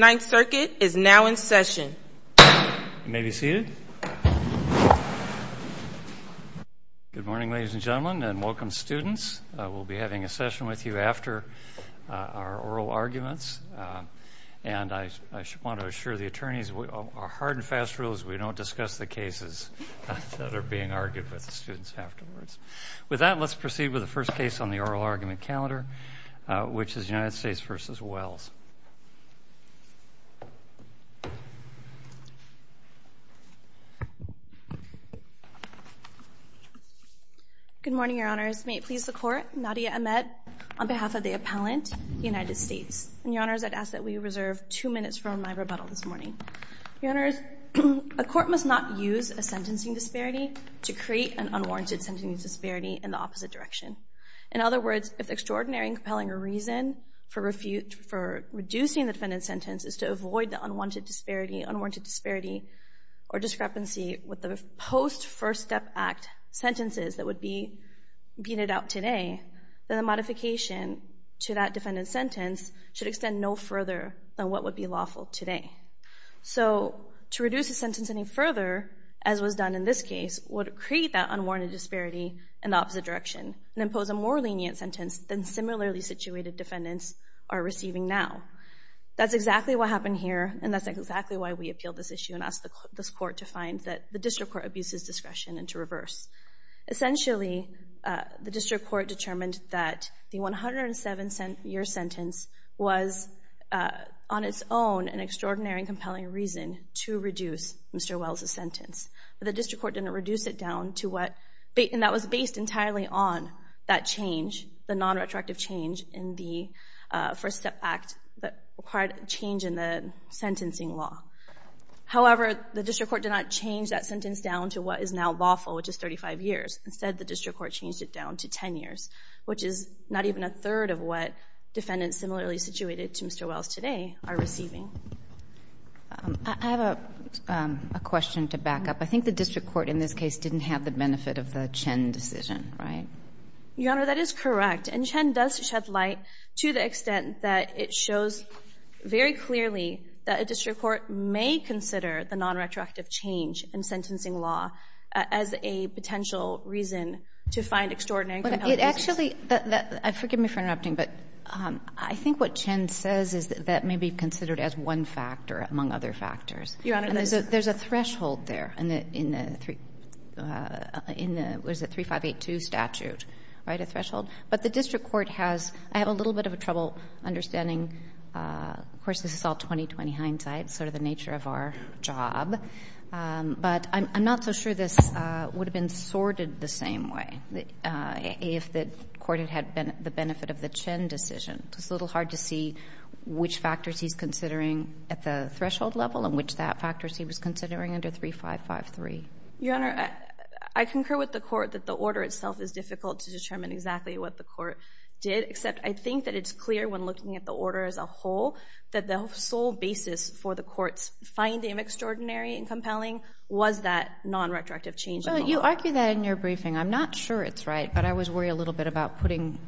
9th Circuit is now in session. You may be seated. Good morning ladies and gentlemen and welcome students. We'll be having a session with you after our oral arguments. And I want to assure the attorneys that with our hard and fast rules we don't discuss the cases that are being argued with the students afterwards. With that, let's proceed with the first case on the oral argument calendar, which is United States v. Wells. Good morning, Your Honors. May it please the Court, Nadia Ahmed on behalf of the appellant, United States. And Your Honors, I'd ask that we reserve two minutes for my rebuttal this morning. Your Honors, a court must not use a sentencing disparity to create an unwarranted sentencing disparity in the opposite direction. In other words, if the extraordinary and compelling reason for reducing the defendant's sentence is to avoid the unwarranted disparity or discrepancy with the post-First Step Act sentences that would be beat out today, then the modification to that defendant's sentence should extend no further than what would be lawful today. So to reduce the sentence any further, as was done in this case, would create that unwarranted disparity in the opposite direction and impose a more lenient sentence than similarly situated defendants are receiving now. That's exactly what happened here and that's exactly why we appealed this issue and asked this court to find that the district court abuses discretion and to reverse. Essentially, the district court determined that the 107-year sentence was on its own an extraordinary and compelling reason to reduce Mr. Wells' sentence, but the district court didn't reduce it down to what, and that was based entirely on that change, the non-retroactive change in the First Step Act that required a change in the sentencing law. However, the district court did not change that sentence down to what is now lawful, which is 35 years. Instead, the district court changed it down to 10 years, which is not even a third of what defendants similarly situated to Mr. Wells today are receiving. I have a question to back up. I think the district court in this case didn't have the benefit of the Chen decision, right? Your Honor, that is correct, and Chen does shed light to the extent that it shows very clearly that a district court may consider the non-retroactive change in sentencing law as a potential reason to find extraordinary and compelling reasons. Actually, forgive me for interrupting, but I think what Chen says is that that may be considered as one factor among other factors. Your Honor, there's a threshold there in the 3582 statute, right, a threshold. But the district court has — I have a little bit of trouble understanding, of course, this is all 20-20 hindsight, sort of the nature of our job, but I'm not so sure this would have been sorted the same way if the court had had the benefit of the Chen decision. It's a little hard to see which factors he's considering at the threshold level and which factors he was considering under 3553. Your Honor, I concur with the court that the order itself is difficult to determine exactly what the court did, except I think that it's clear when looking at the order as a whole that the sole basis for the court's finding of extraordinary and compelling was that non-retroactive change in the law. Well, you argue that in your briefing. I'm not sure it's right, but I always worry a little bit about putting,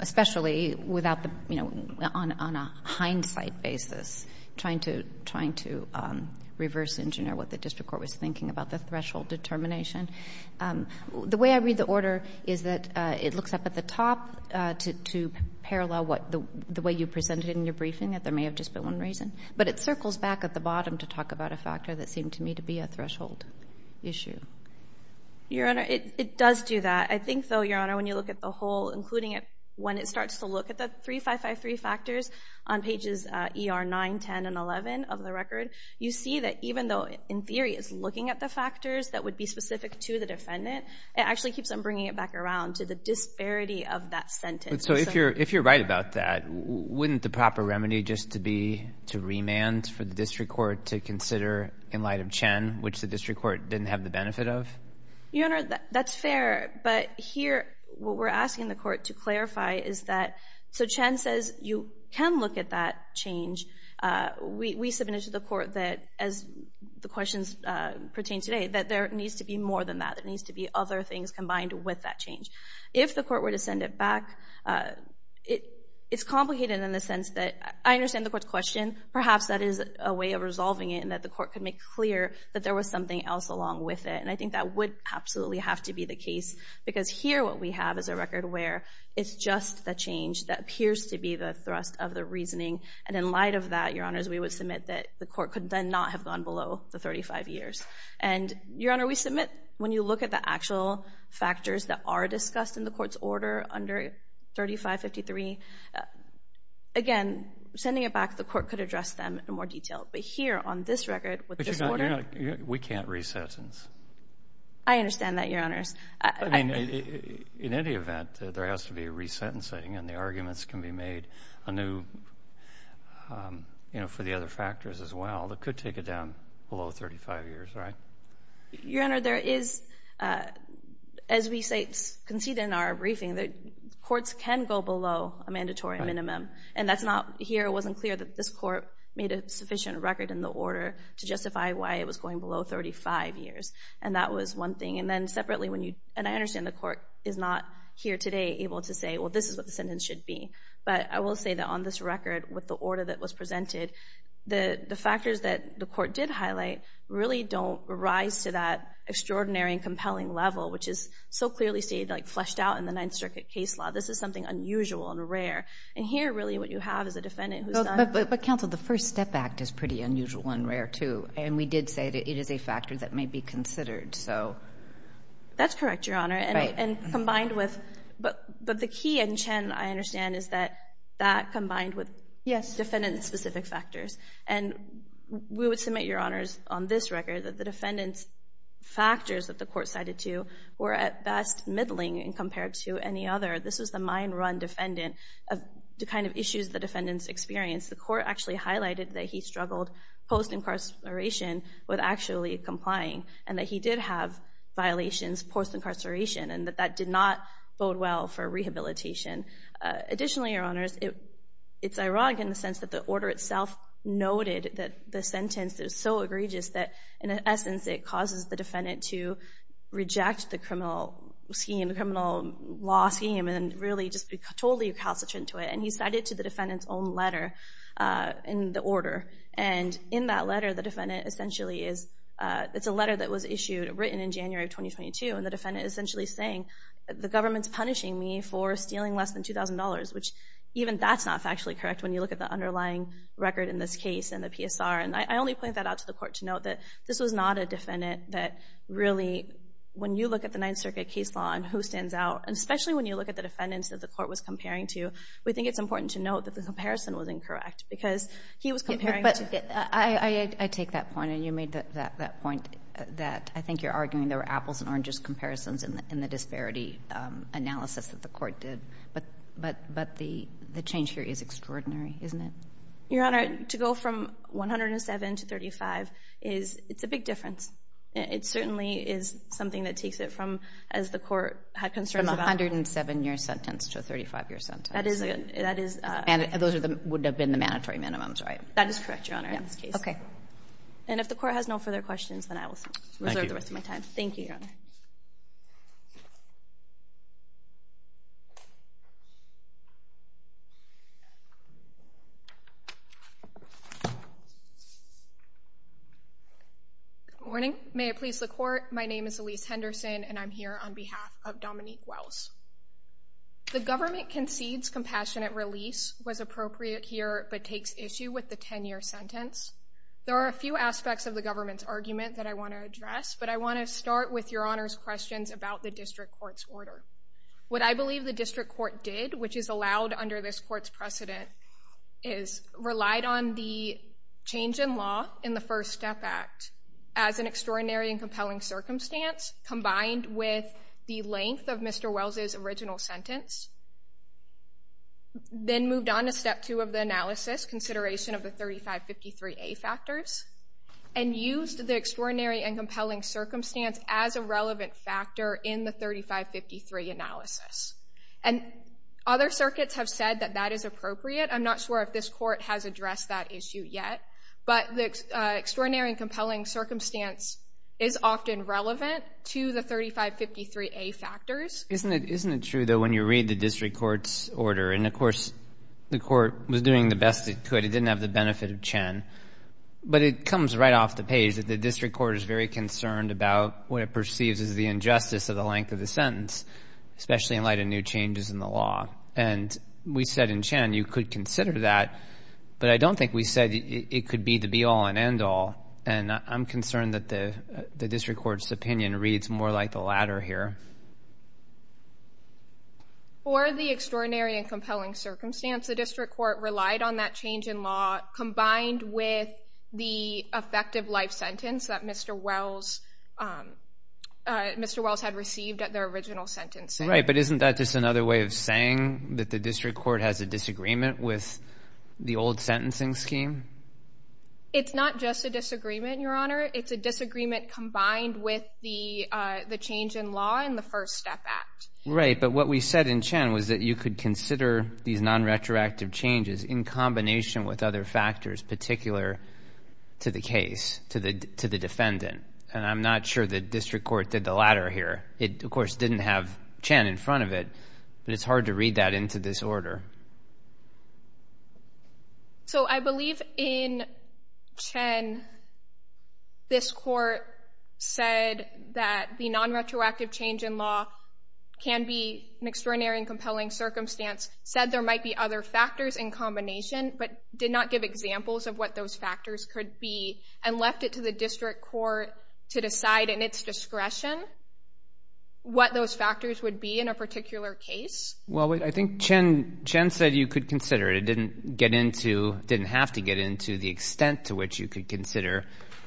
especially without the, you know, on a hindsight basis trying to reverse engineer what the district court was thinking about the threshold determination. The way I read the order is that it looks up at the top to parallel the way you presented it in your briefing, that there may have just been one reason. But it circles back at the bottom to talk about a factor that seemed to me to be a threshold issue. Your Honor, it does do that. I think, though, Your Honor, when you look at the whole, including when it starts to look at the 3553 factors on pages ER 9, 10, and 11 of the record, you see that even though in theory it's looking at the factors that would be specific to the defendant, it actually keeps on bringing it back around to the disparity of that sentence. So if you're right about that, wouldn't the proper remedy just to be to remand for the district court to consider in light of Chen, which the district court didn't have the benefit of? Your Honor, that's fair. But here what we're asking the court to clarify is that so Chen says you can look at that change. We submitted to the court that, as the questions pertain today, that there needs to be more than that. There needs to be other things combined with that change. If the court were to send it back, it's complicated in the sense that I understand the court's question. Perhaps that is a way of resolving it and that the court could make clear that there was something else along with it. And I think that would absolutely have to be the case, because here what we have is a record where it's just the change that appears to be the thrust of the reasoning. And in light of that, Your Honors, we would submit that the court could then not have gone below the 35 years. And, Your Honor, we submit when you look at the actual factors that are discussed in the court's order under 3553, again, sending it back, the court could address them in more detail. But here on this record with this order. But, Your Honor, we can't re-sentence. I understand that, Your Honors. I mean, in any event, there has to be a re-sentencing, and the arguments can be made for the other factors as well that could take it down below 35 years, right? Your Honor, there is, as we conceded in our briefing, that courts can go below a mandatory minimum. And that's not here. It wasn't clear that this court made a sufficient record in the order to justify why it was going below 35 years. And that was one thing. And I understand the court is not here today able to say, well, this is what the sentence should be. But I will say that on this record, with the order that was presented, the factors that the court did highlight really don't rise to that extraordinary and compelling level, which is so clearly stated, like, fleshed out in the Ninth Circuit case law. This is something unusual and rare. And here, really, what you have is a defendant who's done. But, counsel, the First Step Act is pretty unusual and rare, too. And we did say that it is a factor that may be considered. So. That's correct, Your Honor. Right. And combined with... But the key in Chen, I understand, is that that combined with... Yes. Defendant-specific factors. And we would submit, Your Honors, on this record that the defendant's factors that the court cited to were, at best, middling compared to any other. This was the mind-run defendant, the kind of issues the defendant's experienced. The court actually highlighted that he struggled post-incarceration with actually complying and that he did have violations post-incarceration and that that did not bode well for rehabilitation. Additionally, Your Honors, it's ironic in the sense that the order itself noted that the sentence is so egregious that, in essence, it causes the defendant to reject the criminal scheme, the criminal law scheme, and really just be totally recalcitrant to it. And he cited it to the defendant's own letter in the order. And in that letter, the defendant essentially is... It's a letter that was issued, written in January of 2022, and the defendant is essentially saying the government's punishing me for stealing less than $2,000, which even that's not factually correct when you look at the underlying record in this case and the PSR. And I only point that out to the court to note that this was not a defendant that really... When you look at the Ninth Circuit case law and who stands out, and especially when you look at the defendants that the court was comparing to, we think it's important to note that the comparison was incorrect because he was comparing... But I take that point, and you made that point that I think you're arguing there were apples and oranges comparisons in the disparity analysis that the court did. But the change here is extraordinary, isn't it? Your Honor, to go from 107 to 35 is a big difference. It certainly is something that takes it from, as the court had concerns about... From a 107-year sentence to a 35-year sentence. That is... And those would have been the mandatory minimums, right? That is correct, Your Honor, in this case. Okay. And if the court has no further questions, then I will reserve the rest of my time. Thank you, Your Honor. Good morning. May it please the Court, my name is Elise Henderson, and I'm here on behalf of Dominique Wells. The government concedes compassionate release was appropriate here, but takes issue with the 10-year sentence. There are a few aspects of the government's argument that I want to address, but I want to start with Your Honor's questions about the district court's order. What I believe the district court did, which is allowed under this court's precedent, is relied on the change in law in the First Step Act as an extraordinary and compelling circumstance, combined with the length of Mr. Wells' original sentence, then moved on to Step 2 of the analysis, consideration of the 3553A factors, and used the extraordinary and compelling circumstance as a relevant factor in the 3553 analysis. And other circuits have said that that is appropriate. I'm not sure if this court has addressed that issue yet, but the extraordinary and compelling circumstance is often relevant to the 3553A factors. Isn't it true, though, when you read the district court's order, and of course the court was doing the best it could, it didn't have the benefit of Chen, but it comes right off the page that the district court is very concerned about what it perceives as the injustice of the length of the sentence, especially in light of new changes in the law. And we said in Chen you could consider that, but I don't think we said it could be the be-all and end-all. And I'm concerned that the district court's opinion reads more like the latter here. For the extraordinary and compelling circumstance, the district court relied on that change in law, combined with the effective life sentence that Mr. Wells had received at their original sentence. Right, but isn't that just another way of saying that the district court has a disagreement with the old sentencing scheme? It's not just a disagreement, Your Honor. It's a disagreement combined with the change in law in the First Step Act. Right, but what we said in Chen was that you could consider these non-retroactive changes in combination with other factors particular to the case, to the defendant. And I'm not sure the district court did the latter here. It, of course, didn't have Chen in front of it, but it's hard to read that into this order. So I believe in Chen this court said that the non-retroactive change in law can be an extraordinary and compelling circumstance, said there might be other factors in combination, but did not give examples of what those factors could be, and left it to the district court to decide in its discretion what those factors would be in a particular case? Well, I think Chen said you could consider it. It didn't have to get into the extent to which you could consider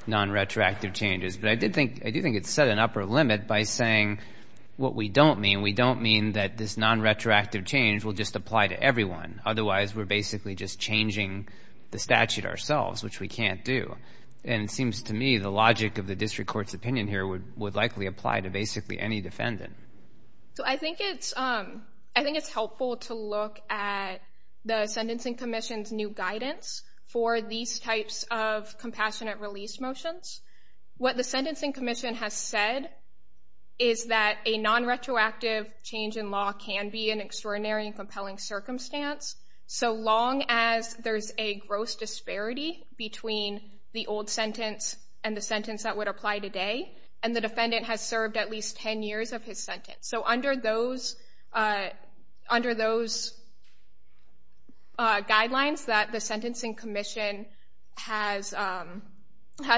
non-retroactive changes, but I do think it set an upper limit by saying what we don't mean. We don't mean that this non-retroactive change will just apply to everyone. Otherwise, we're basically just changing the statute ourselves, which we can't do. And it seems to me the logic of the district court's opinion here would likely apply to basically any defendant. So I think it's helpful to look at the Sentencing Commission's new guidance for these types of compassionate release motions. What the Sentencing Commission has said is that a non-retroactive change in law can be an extraordinary and compelling circumstance, so long as there's a gross disparity between the old sentence and the sentence that would apply today, and the defendant has served at least 10 years of his sentence. So under those guidelines that the Sentencing Commission has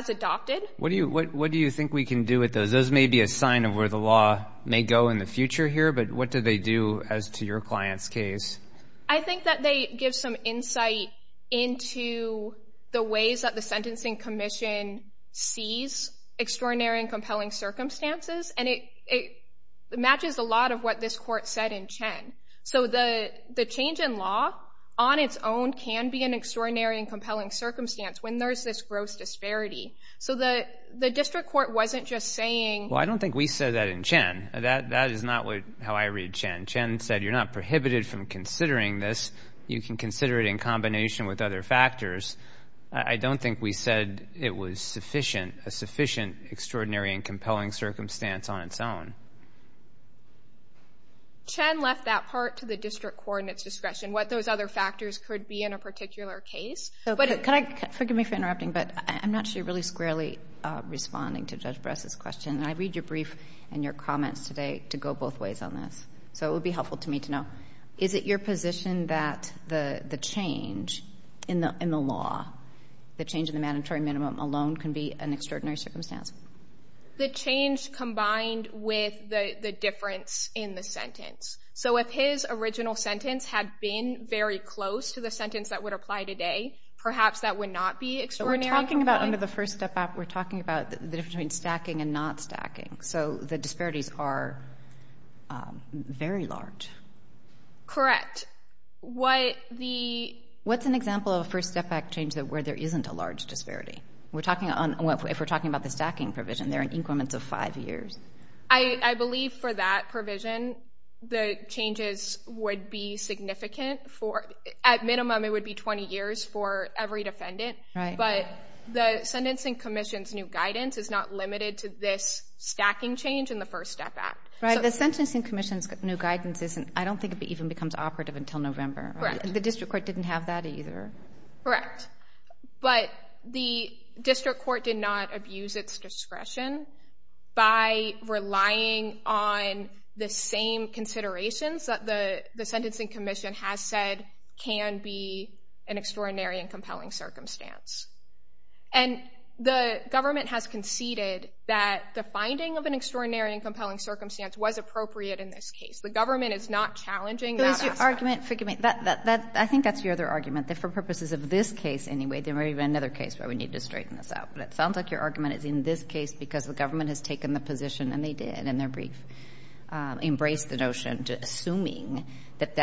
adopted. What do you think we can do with those? Those may be a sign of where the law may go in the future here, but what do they do as to your client's case? I think that they give some insight into the ways that the Sentencing Commission sees extraordinary and compelling circumstances, and it matches a lot of what this court said in Chen. So the change in law on its own can be an extraordinary and compelling circumstance when there's this gross disparity. So the district court wasn't just saying— Well, I don't think we said that in Chen. That is not how I read Chen. Chen said you're not prohibited from considering this. You can consider it in combination with other factors. I don't think we said it was sufficient, a sufficient extraordinary and compelling circumstance on its own. Chen left that part to the district court and its discretion, what those other factors could be in a particular case. Forgive me for interrupting, but I'm not sure you're really squarely responding to Judge Bress's question. I read your brief and your comments today to go both ways on this, so it would be helpful to me to know. Is it your position that the change in the law, the change in the mandatory minimum alone, can be an extraordinary circumstance? So if his original sentence had been very close to the sentence that would apply today, perhaps that would not be extraordinary. So we're talking about under the First Step Act, we're talking about the difference between stacking and not stacking. So the disparities are very large. Correct. What's an example of a First Step Act change where there isn't a large disparity? If we're talking about the stacking provision, they're in increments of five years. I believe for that provision, the changes would be significant. At minimum, it would be 20 years for every defendant. But the Sentencing Commission's new guidance is not limited to this stacking change in the First Step Act. The Sentencing Commission's new guidance isn't, I don't think it even becomes operative until November. The district court didn't have that either. Correct. But the district court did not abuse its discretion by relying on the same considerations that the Sentencing Commission has said can be an extraordinary and compelling circumstance. And the government has conceded that the finding of an extraordinary and compelling circumstance was appropriate in this case. The government is not challenging that. I think that's your other argument. For purposes of this case anyway, there may be another case where we need to straighten this out. But it sounds like your argument is in this case because the government has taken the position, and they did in their brief, embraced the notion, basically assuming that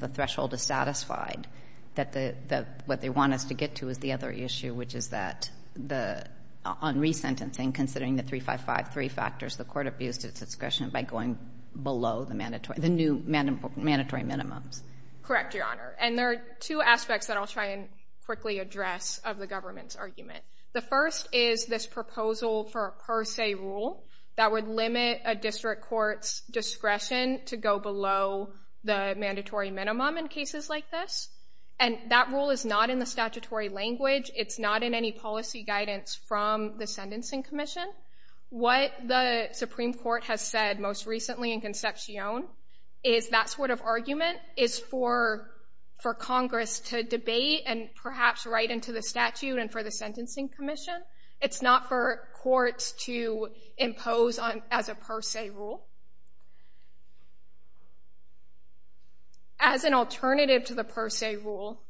the threshold is satisfied, that what they want us to get to is the other issue, which is that on resentencing, considering the 3553 factors, the court abused its discretion by going below the new mandatory minimums. Correct, Your Honor. And there are two aspects that I'll try and quickly address of the government's argument. The first is this proposal for a per se rule that would limit a district court's discretion to go below the mandatory minimum in cases like this. And that rule is not in the statutory language. It's not in any policy guidance from the Sentencing Commission. What the Supreme Court has said most recently in Concepcion is that sort of argument is for Congress to debate and perhaps write into the statute and for the Sentencing Commission. It's not for courts to impose as a per se rule. As an alternative to the per se rule,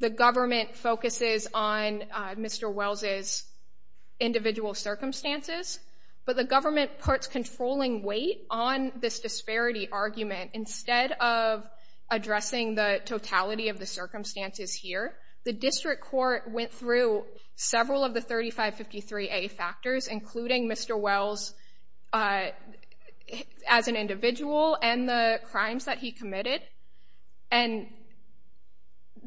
the government focuses on Mr. Wells' individual circumstances, but the government puts controlling weight on this disparity argument. Instead of addressing the totality of the circumstances here, the district court went through several of the 3553A factors, including Mr. Wells as an individual and the crimes that he committed. And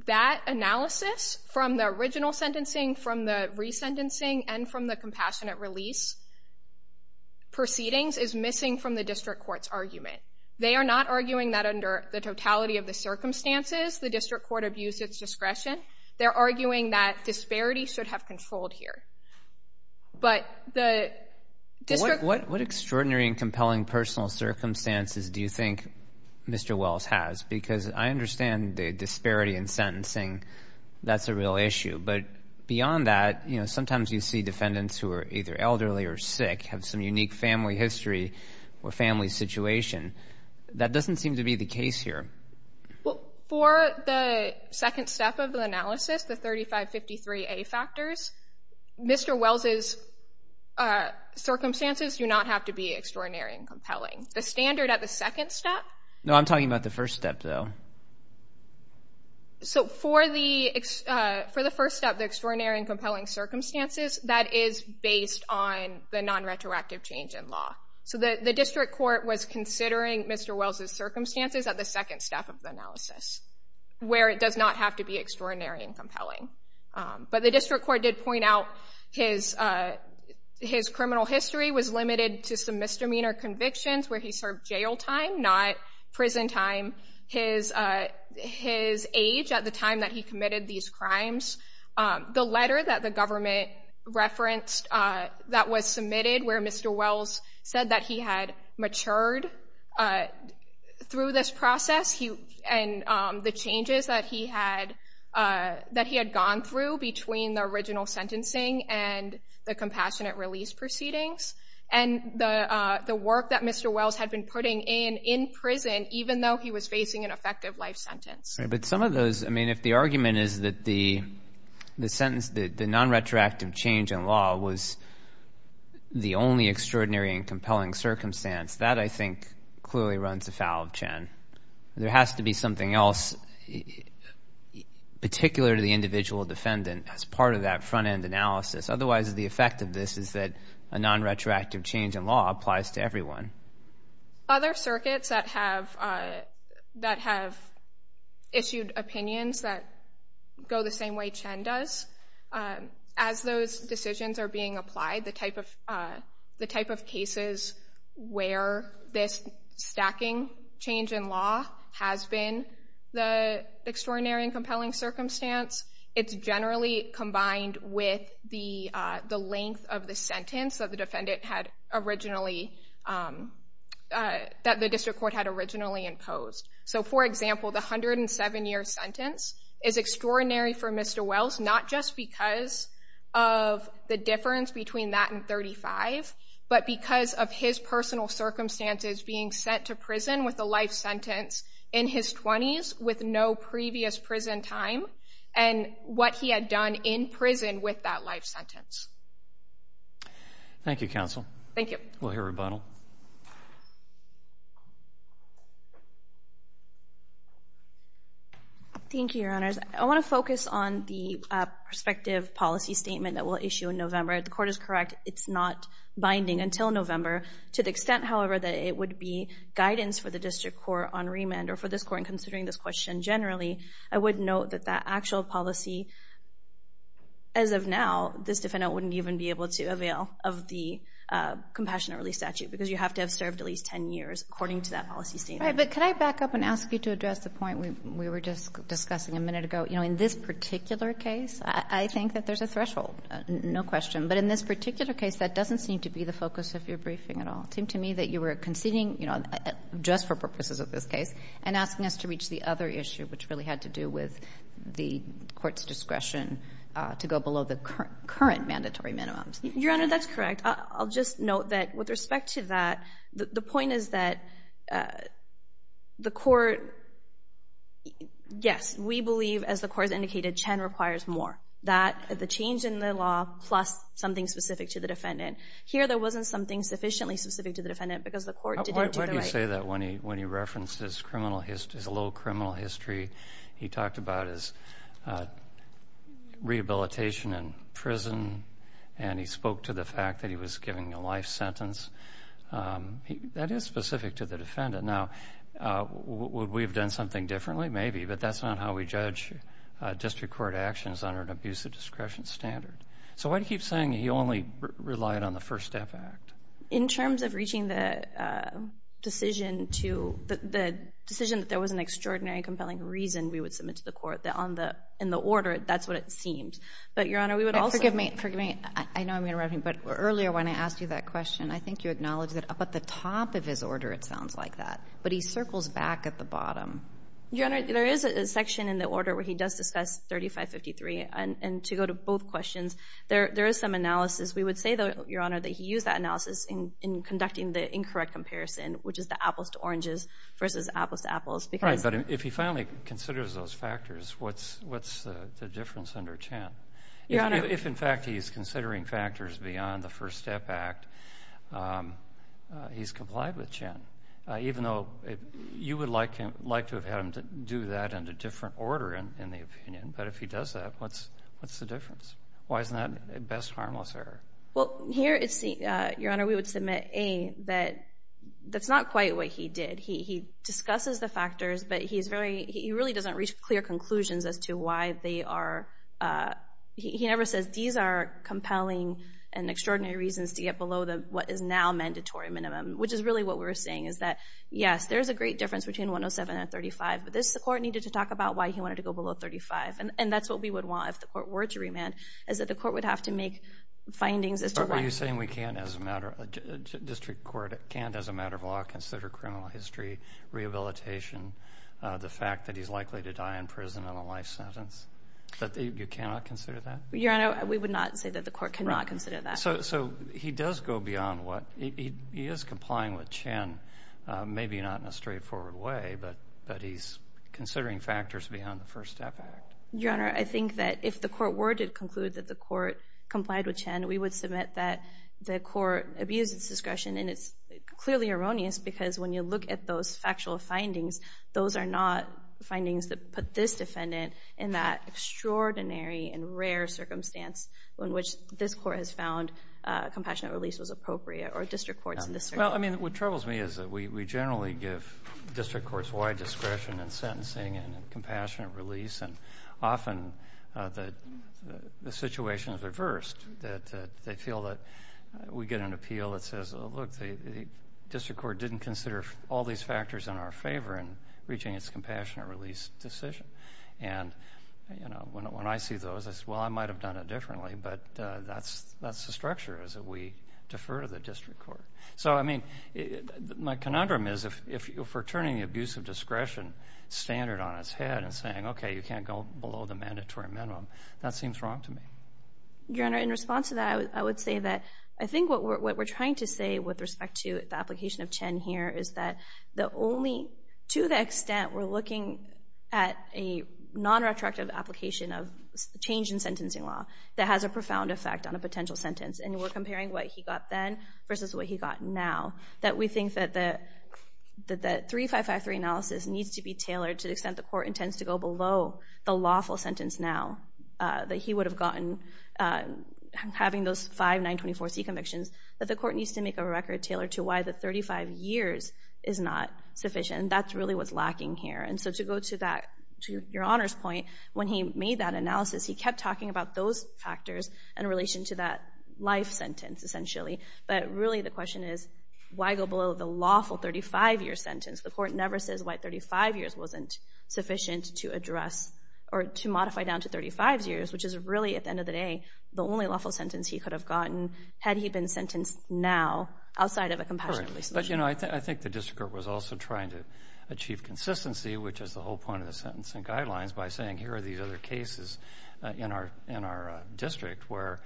that analysis from the original sentencing, from the resentencing, and from the compassionate release proceedings is missing from the district court's argument. They are not arguing that under the totality of the circumstances, the district court abused its discretion. They're arguing that disparity should have controlled here. But the district court... What extraordinary and compelling personal circumstances do you think Mr. Wells has? Because I understand the disparity in sentencing. That's a real issue. But beyond that, you know, sometimes you see defendants who are either elderly or sick, have some unique family history or family situation. That doesn't seem to be the case here. Well, for the second step of the analysis, the 3553A factors, Mr. Wells' circumstances do not have to be extraordinary and compelling. The standard at the second step... No, I'm talking about the first step, though. So for the first step, the extraordinary and compelling circumstances, that is based on the non-retroactive change in law. So the district court was considering Mr. Wells' circumstances at the second step of the analysis, where it does not have to be extraordinary and compelling. But the district court did point out his criminal history was limited to some misdemeanor convictions where he served jail time, not prison time. His age at the time that he committed these crimes. The letter that the government referenced that was submitted, where Mr. Wells said that he had matured through this process and the changes that he had gone through between the original sentencing and the compassionate release proceedings. And the work that Mr. Wells had been putting in in prison, even though he was facing an effective life sentence. But some of those, I mean, if the argument is that the non-retroactive change in law was the only extraordinary and compelling circumstance, that, I think, clearly runs afoul of Chen. There has to be something else particular to the individual defendant as part of that front-end analysis. Otherwise, the effect of this is that a non-retroactive change in law applies to everyone. Other circuits that have issued opinions that go the same way Chen does, as those decisions are being applied, the type of cases where this stacking change in law has been the extraordinary and compelling circumstance, it's generally combined with the length of the sentence that the district court had originally imposed. So, for example, the 107-year sentence is extraordinary for Mr. Wells, not just because of the difference between that and 35, but because of his personal circumstances being sent to prison with a life sentence in his 20s with no previous prison time and what he had done in prison with that life sentence. Thank you, Counsel. Thank you. We'll hear a rebuttal. Thank you, Your Honors. I want to focus on the prospective policy statement that we'll issue in November. If the Court is correct, it's not binding until November. To the extent, however, that it would be guidance for the district court on remand, or for this Court in considering this question generally, I would note that that actual policy, as of now, this defendant wouldn't even be able to avail of the compassionate release statute because you have to have served at least 10 years according to that policy statement. But can I back up and ask you to address the point we were just discussing a minute ago? In this particular case, I think that there's a threshold, no question. But in this particular case, that doesn't seem to be the focus of your briefing at all. It seemed to me that you were conceding just for purposes of this case and asking us to reach the other issue, which really had to do with the Court's discretion to go below the current mandatory minimums. Your Honor, that's correct. I'll just note that with respect to that, the point is that the Court, yes, we believe, as the Court has indicated, 10 requires more. That, the change in the law, plus something specific to the defendant. Here, there wasn't something sufficiently specific to the defendant because the Court didn't do the right thing. Why do you say that when he referenced his low criminal history? He talked about his rehabilitation in prison, and he spoke to the fact that he was given a life sentence. That is specific to the defendant. Now, would we have done something differently? Maybe, but that's not how we judge district court actions under an abusive discretion standard. So why do you keep saying he only relied on the First Step Act? In terms of reaching the decision that there was an extraordinary and compelling reason we would submit to the Court in the order, that's what it seemed. But, Your Honor, we would also— Forgive me. I know I'm interrupting, but earlier when I asked you that question, I think you acknowledged that up at the top of his order it sounds like that, but he circles back at the bottom. Your Honor, there is a section in the order where he does discuss 3553, and to go to both questions, there is some analysis. We would say, though, Your Honor, that he used that analysis in conducting the incorrect comparison, which is the apples to oranges versus apples to apples because— Right, but if he finally considers those factors, what's the difference under Chen? Your Honor— If, in fact, he is considering factors beyond the First Step Act, he's complied with Chen, even though you would like to have had him do that in a different order, in the opinion. But if he does that, what's the difference? Why isn't that a best harmless error? Well, here, Your Honor, we would submit, A, that that's not quite what he did. He discusses the factors, but he really doesn't reach clear conclusions as to why they are— he never says these are compelling and extraordinary reasons to get below what is now mandatory minimum, which is really what we're saying is that, yes, there is a great difference between 107 and 35, but this Court needed to talk about why he wanted to go below 35, and that's what we would want if the Court were to remand, is that the Court would have to make findings as to why— Are you saying we can't, as a matter—District Court can't, as a matter of law, consider criminal history, rehabilitation, the fact that he's likely to die in prison on a life sentence? That you cannot consider that? Your Honor, we would not say that the Court cannot consider that. So he does go beyond what—he is complying with Chen, maybe not in a straightforward way, but he's considering factors beyond the First Step Act. Your Honor, I think that if the Court were to conclude that the Court complied with Chen, we would submit that the Court abused its discretion, and it's clearly erroneous because when you look at those factual findings, those are not findings that put this defendant in that extraordinary and rare circumstance in which this Court has found compassionate release was appropriate, or district courts in this case. Well, I mean, what troubles me is that we generally give district courts wide discretion in sentencing and in compassionate release, and often the situation is reversed, that they feel that we get an appeal that says, oh, look, the district court didn't consider all these factors in our favor in reaching its compassionate release decision. And, you know, when I see those, I say, well, I might have done it differently, but that's the structure, is that we defer to the district court. So, I mean, my conundrum is if we're turning the abuse of discretion standard on its head and saying, okay, you can't go below the mandatory minimum, that seems wrong to me. Your Honor, in response to that, I would say that I think what we're trying to say with respect to the application of Chen here is that the only to the extent we're looking at a non-retroactive application of change in sentencing law that has a profound effect on a potential sentence, and we're comparing what he got then versus what he got now, that we think that the 3553 analysis needs to be tailored to the extent the court intends to go below the lawful sentence now, that he would have gotten having those five 924C convictions, that the court needs to make a record tailored to why the 35 years is not sufficient, and that's really what's lacking here. And so to go to that, to Your Honor's point, when he made that analysis, he kept talking about those factors in relation to that life sentence, essentially, but really the question is why go below the lawful 35-year sentence? The court never says why 35 years wasn't sufficient to address or to modify down to 35 years, which is really, at the end of the day, the only lawful sentence he could have gotten had he been sentenced now outside of a compassionate release. But, you know, I think the district court was also trying to achieve consistency, which is the whole point of the sentencing guidelines, by saying here are these other cases in our district where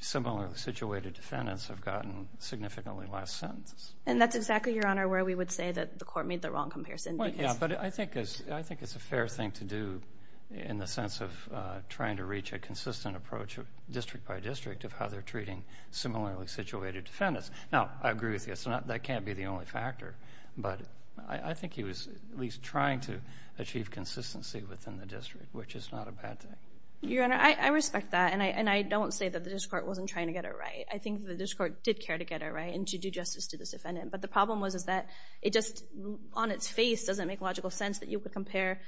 similarly situated defendants have gotten significantly less sentences. And that's exactly, Your Honor, where we would say that the court made the wrong comparison. Yeah, but I think it's a fair thing to do in the sense of trying to reach a consistent approach district by district of how they're treating similarly situated defendants. Now, I agree with you. That can't be the only factor. But I think he was at least trying to achieve consistency within the district, which is not a bad thing. Your Honor, I respect that, and I don't say that the district court wasn't trying to get it right. I think the district court did care to get it right and to do justice to this defendant. But the problem was that it just on its face doesn't make logical sense that you could compare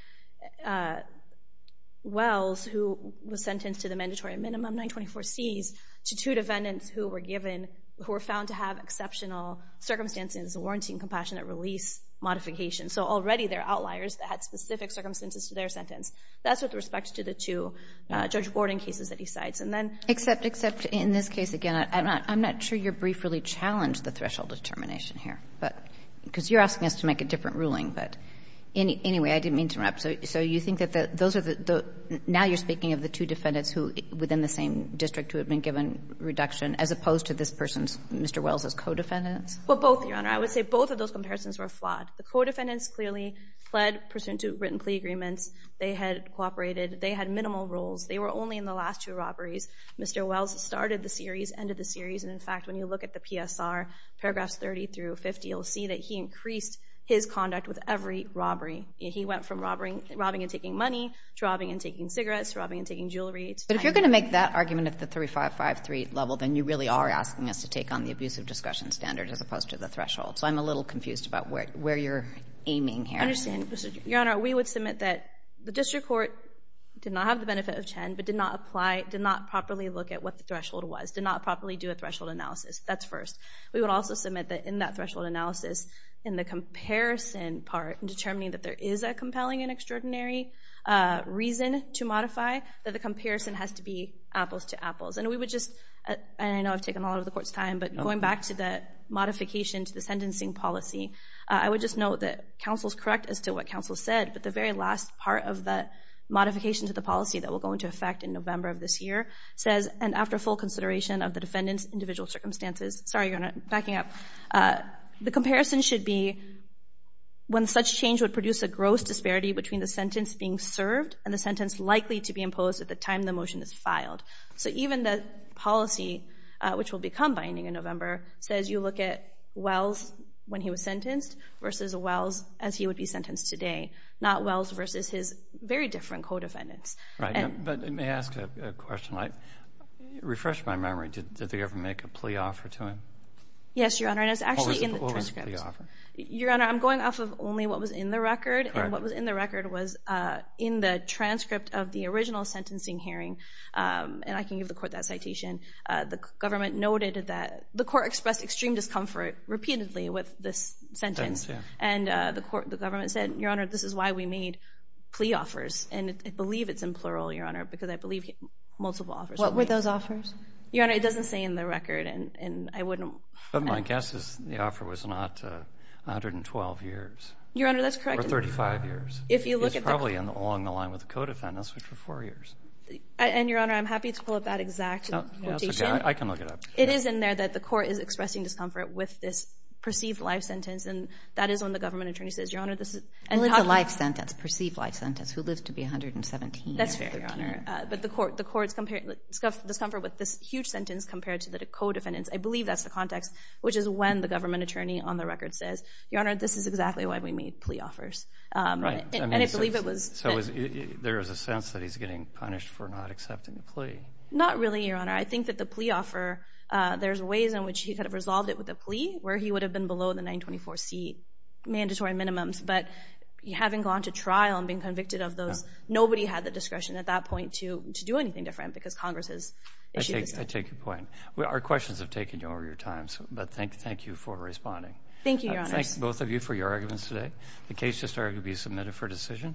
Wells, who was sentenced to the mandatory minimum, 924 C's, to two defendants who were given, who were found to have exceptional circumstances warranting compassionate release modification. So already they're outliers that had specific circumstances to their sentence. That's with respect to the two Judge Borden cases that he cites. Except in this case, again, I'm not sure your brief really challenged the threshold determination here, because you're asking us to make a different ruling. But anyway, I didn't mean to interrupt. So you think that those are the, now you're speaking of the two defendants within the same district who had been given reduction, as opposed to this person's, Mr. Wells' co-defendants? Well, both, your Honor. I would say both of those comparisons were flawed. The co-defendants clearly pled pursuant to written plea agreements. They had cooperated. They had minimal rules. They were only in the last two robberies. Mr. Wells started the series, ended the series. And, in fact, when you look at the PSR, paragraphs 30 through 50, you'll see that he increased his conduct with every robbery. He went from robbing and taking money to robbing and taking cigarettes, robbing and taking jewelry. But if you're going to make that argument at the 3553 level, then you really are asking us to take on the abusive discussion standard as opposed to the threshold. So I'm a little confused about where you're aiming here. I understand. Your Honor, we would submit that the district court did not have the benefit of 10, but did not apply, did not properly look at what the threshold was, did not properly do a threshold analysis. That's first. We would also submit that in that threshold analysis, in the comparison part in determining that there is a compelling and extraordinary reason to modify, that the comparison has to be apples to apples. And we would just, and I know I've taken all of the court's time, but going back to the modification to the sentencing policy, I would just note that counsel is correct as to what counsel said, but the very last part of the modification to the policy that will go into effect in November of this year says, and after full consideration of the defendant's individual circumstances, sorry, Your Honor, backing up, the comparison should be when such change would produce a gross disparity between the sentence being served and the sentence likely to be imposed at the time the motion is filed. So even the policy, which will become binding in November, says you look at Wells when he was sentenced versus Wells as he would be sentenced today, not Wells versus his very different co-defendants. But may I ask a question? Refresh my memory, did they ever make a plea offer to him? Yes, Your Honor, and it's actually in the transcript. What was the plea offer? Your Honor, I'm going off of only what was in the record, and what was in the record was in the transcript of the original sentencing hearing, and I can give the court that citation. The government noted that the court expressed extreme discomfort repeatedly with this sentence, and the government said, Your Honor, this is why we made plea offers, and I believe it's in plural, Your Honor, because I believe he had multiple offers. What were those offers? Your Honor, it doesn't say in the record, and I wouldn't. But my guess is the offer was not 112 years. Your Honor, that's correct. Or 35 years. He was probably along the line with the co-defendants, which were four years. And, Your Honor, I'm happy to pull up that exact quotation. I can look it up. It is in there that the court is expressing discomfort with this perceived life sentence, and that is when the government attorney says, Your Honor, this is... Only the life sentence, perceived life sentence, who lived to be 117 years. That's fair, Your Honor. But the court's discomfort with this huge sentence compared to the co-defendants, I believe that's the context, which is when the government attorney on the record says, Your Honor, this is exactly why we made plea offers. Right. And I believe it was... So there is a sense that he's getting punished for not accepting the plea. Not really, Your Honor. I think that the plea offer, there's ways in which he could have resolved it with a plea where he would have been below the 924C mandatory minimums. But having gone to trial and being convicted of those, nobody had the discretion at that point to do anything different because Congress has issued the statement. I take your point. Our questions have taken over your time, but thank you for responding. Thank you, Your Honor. I thank both of you for your arguments today. The case has started to be submitted for decision.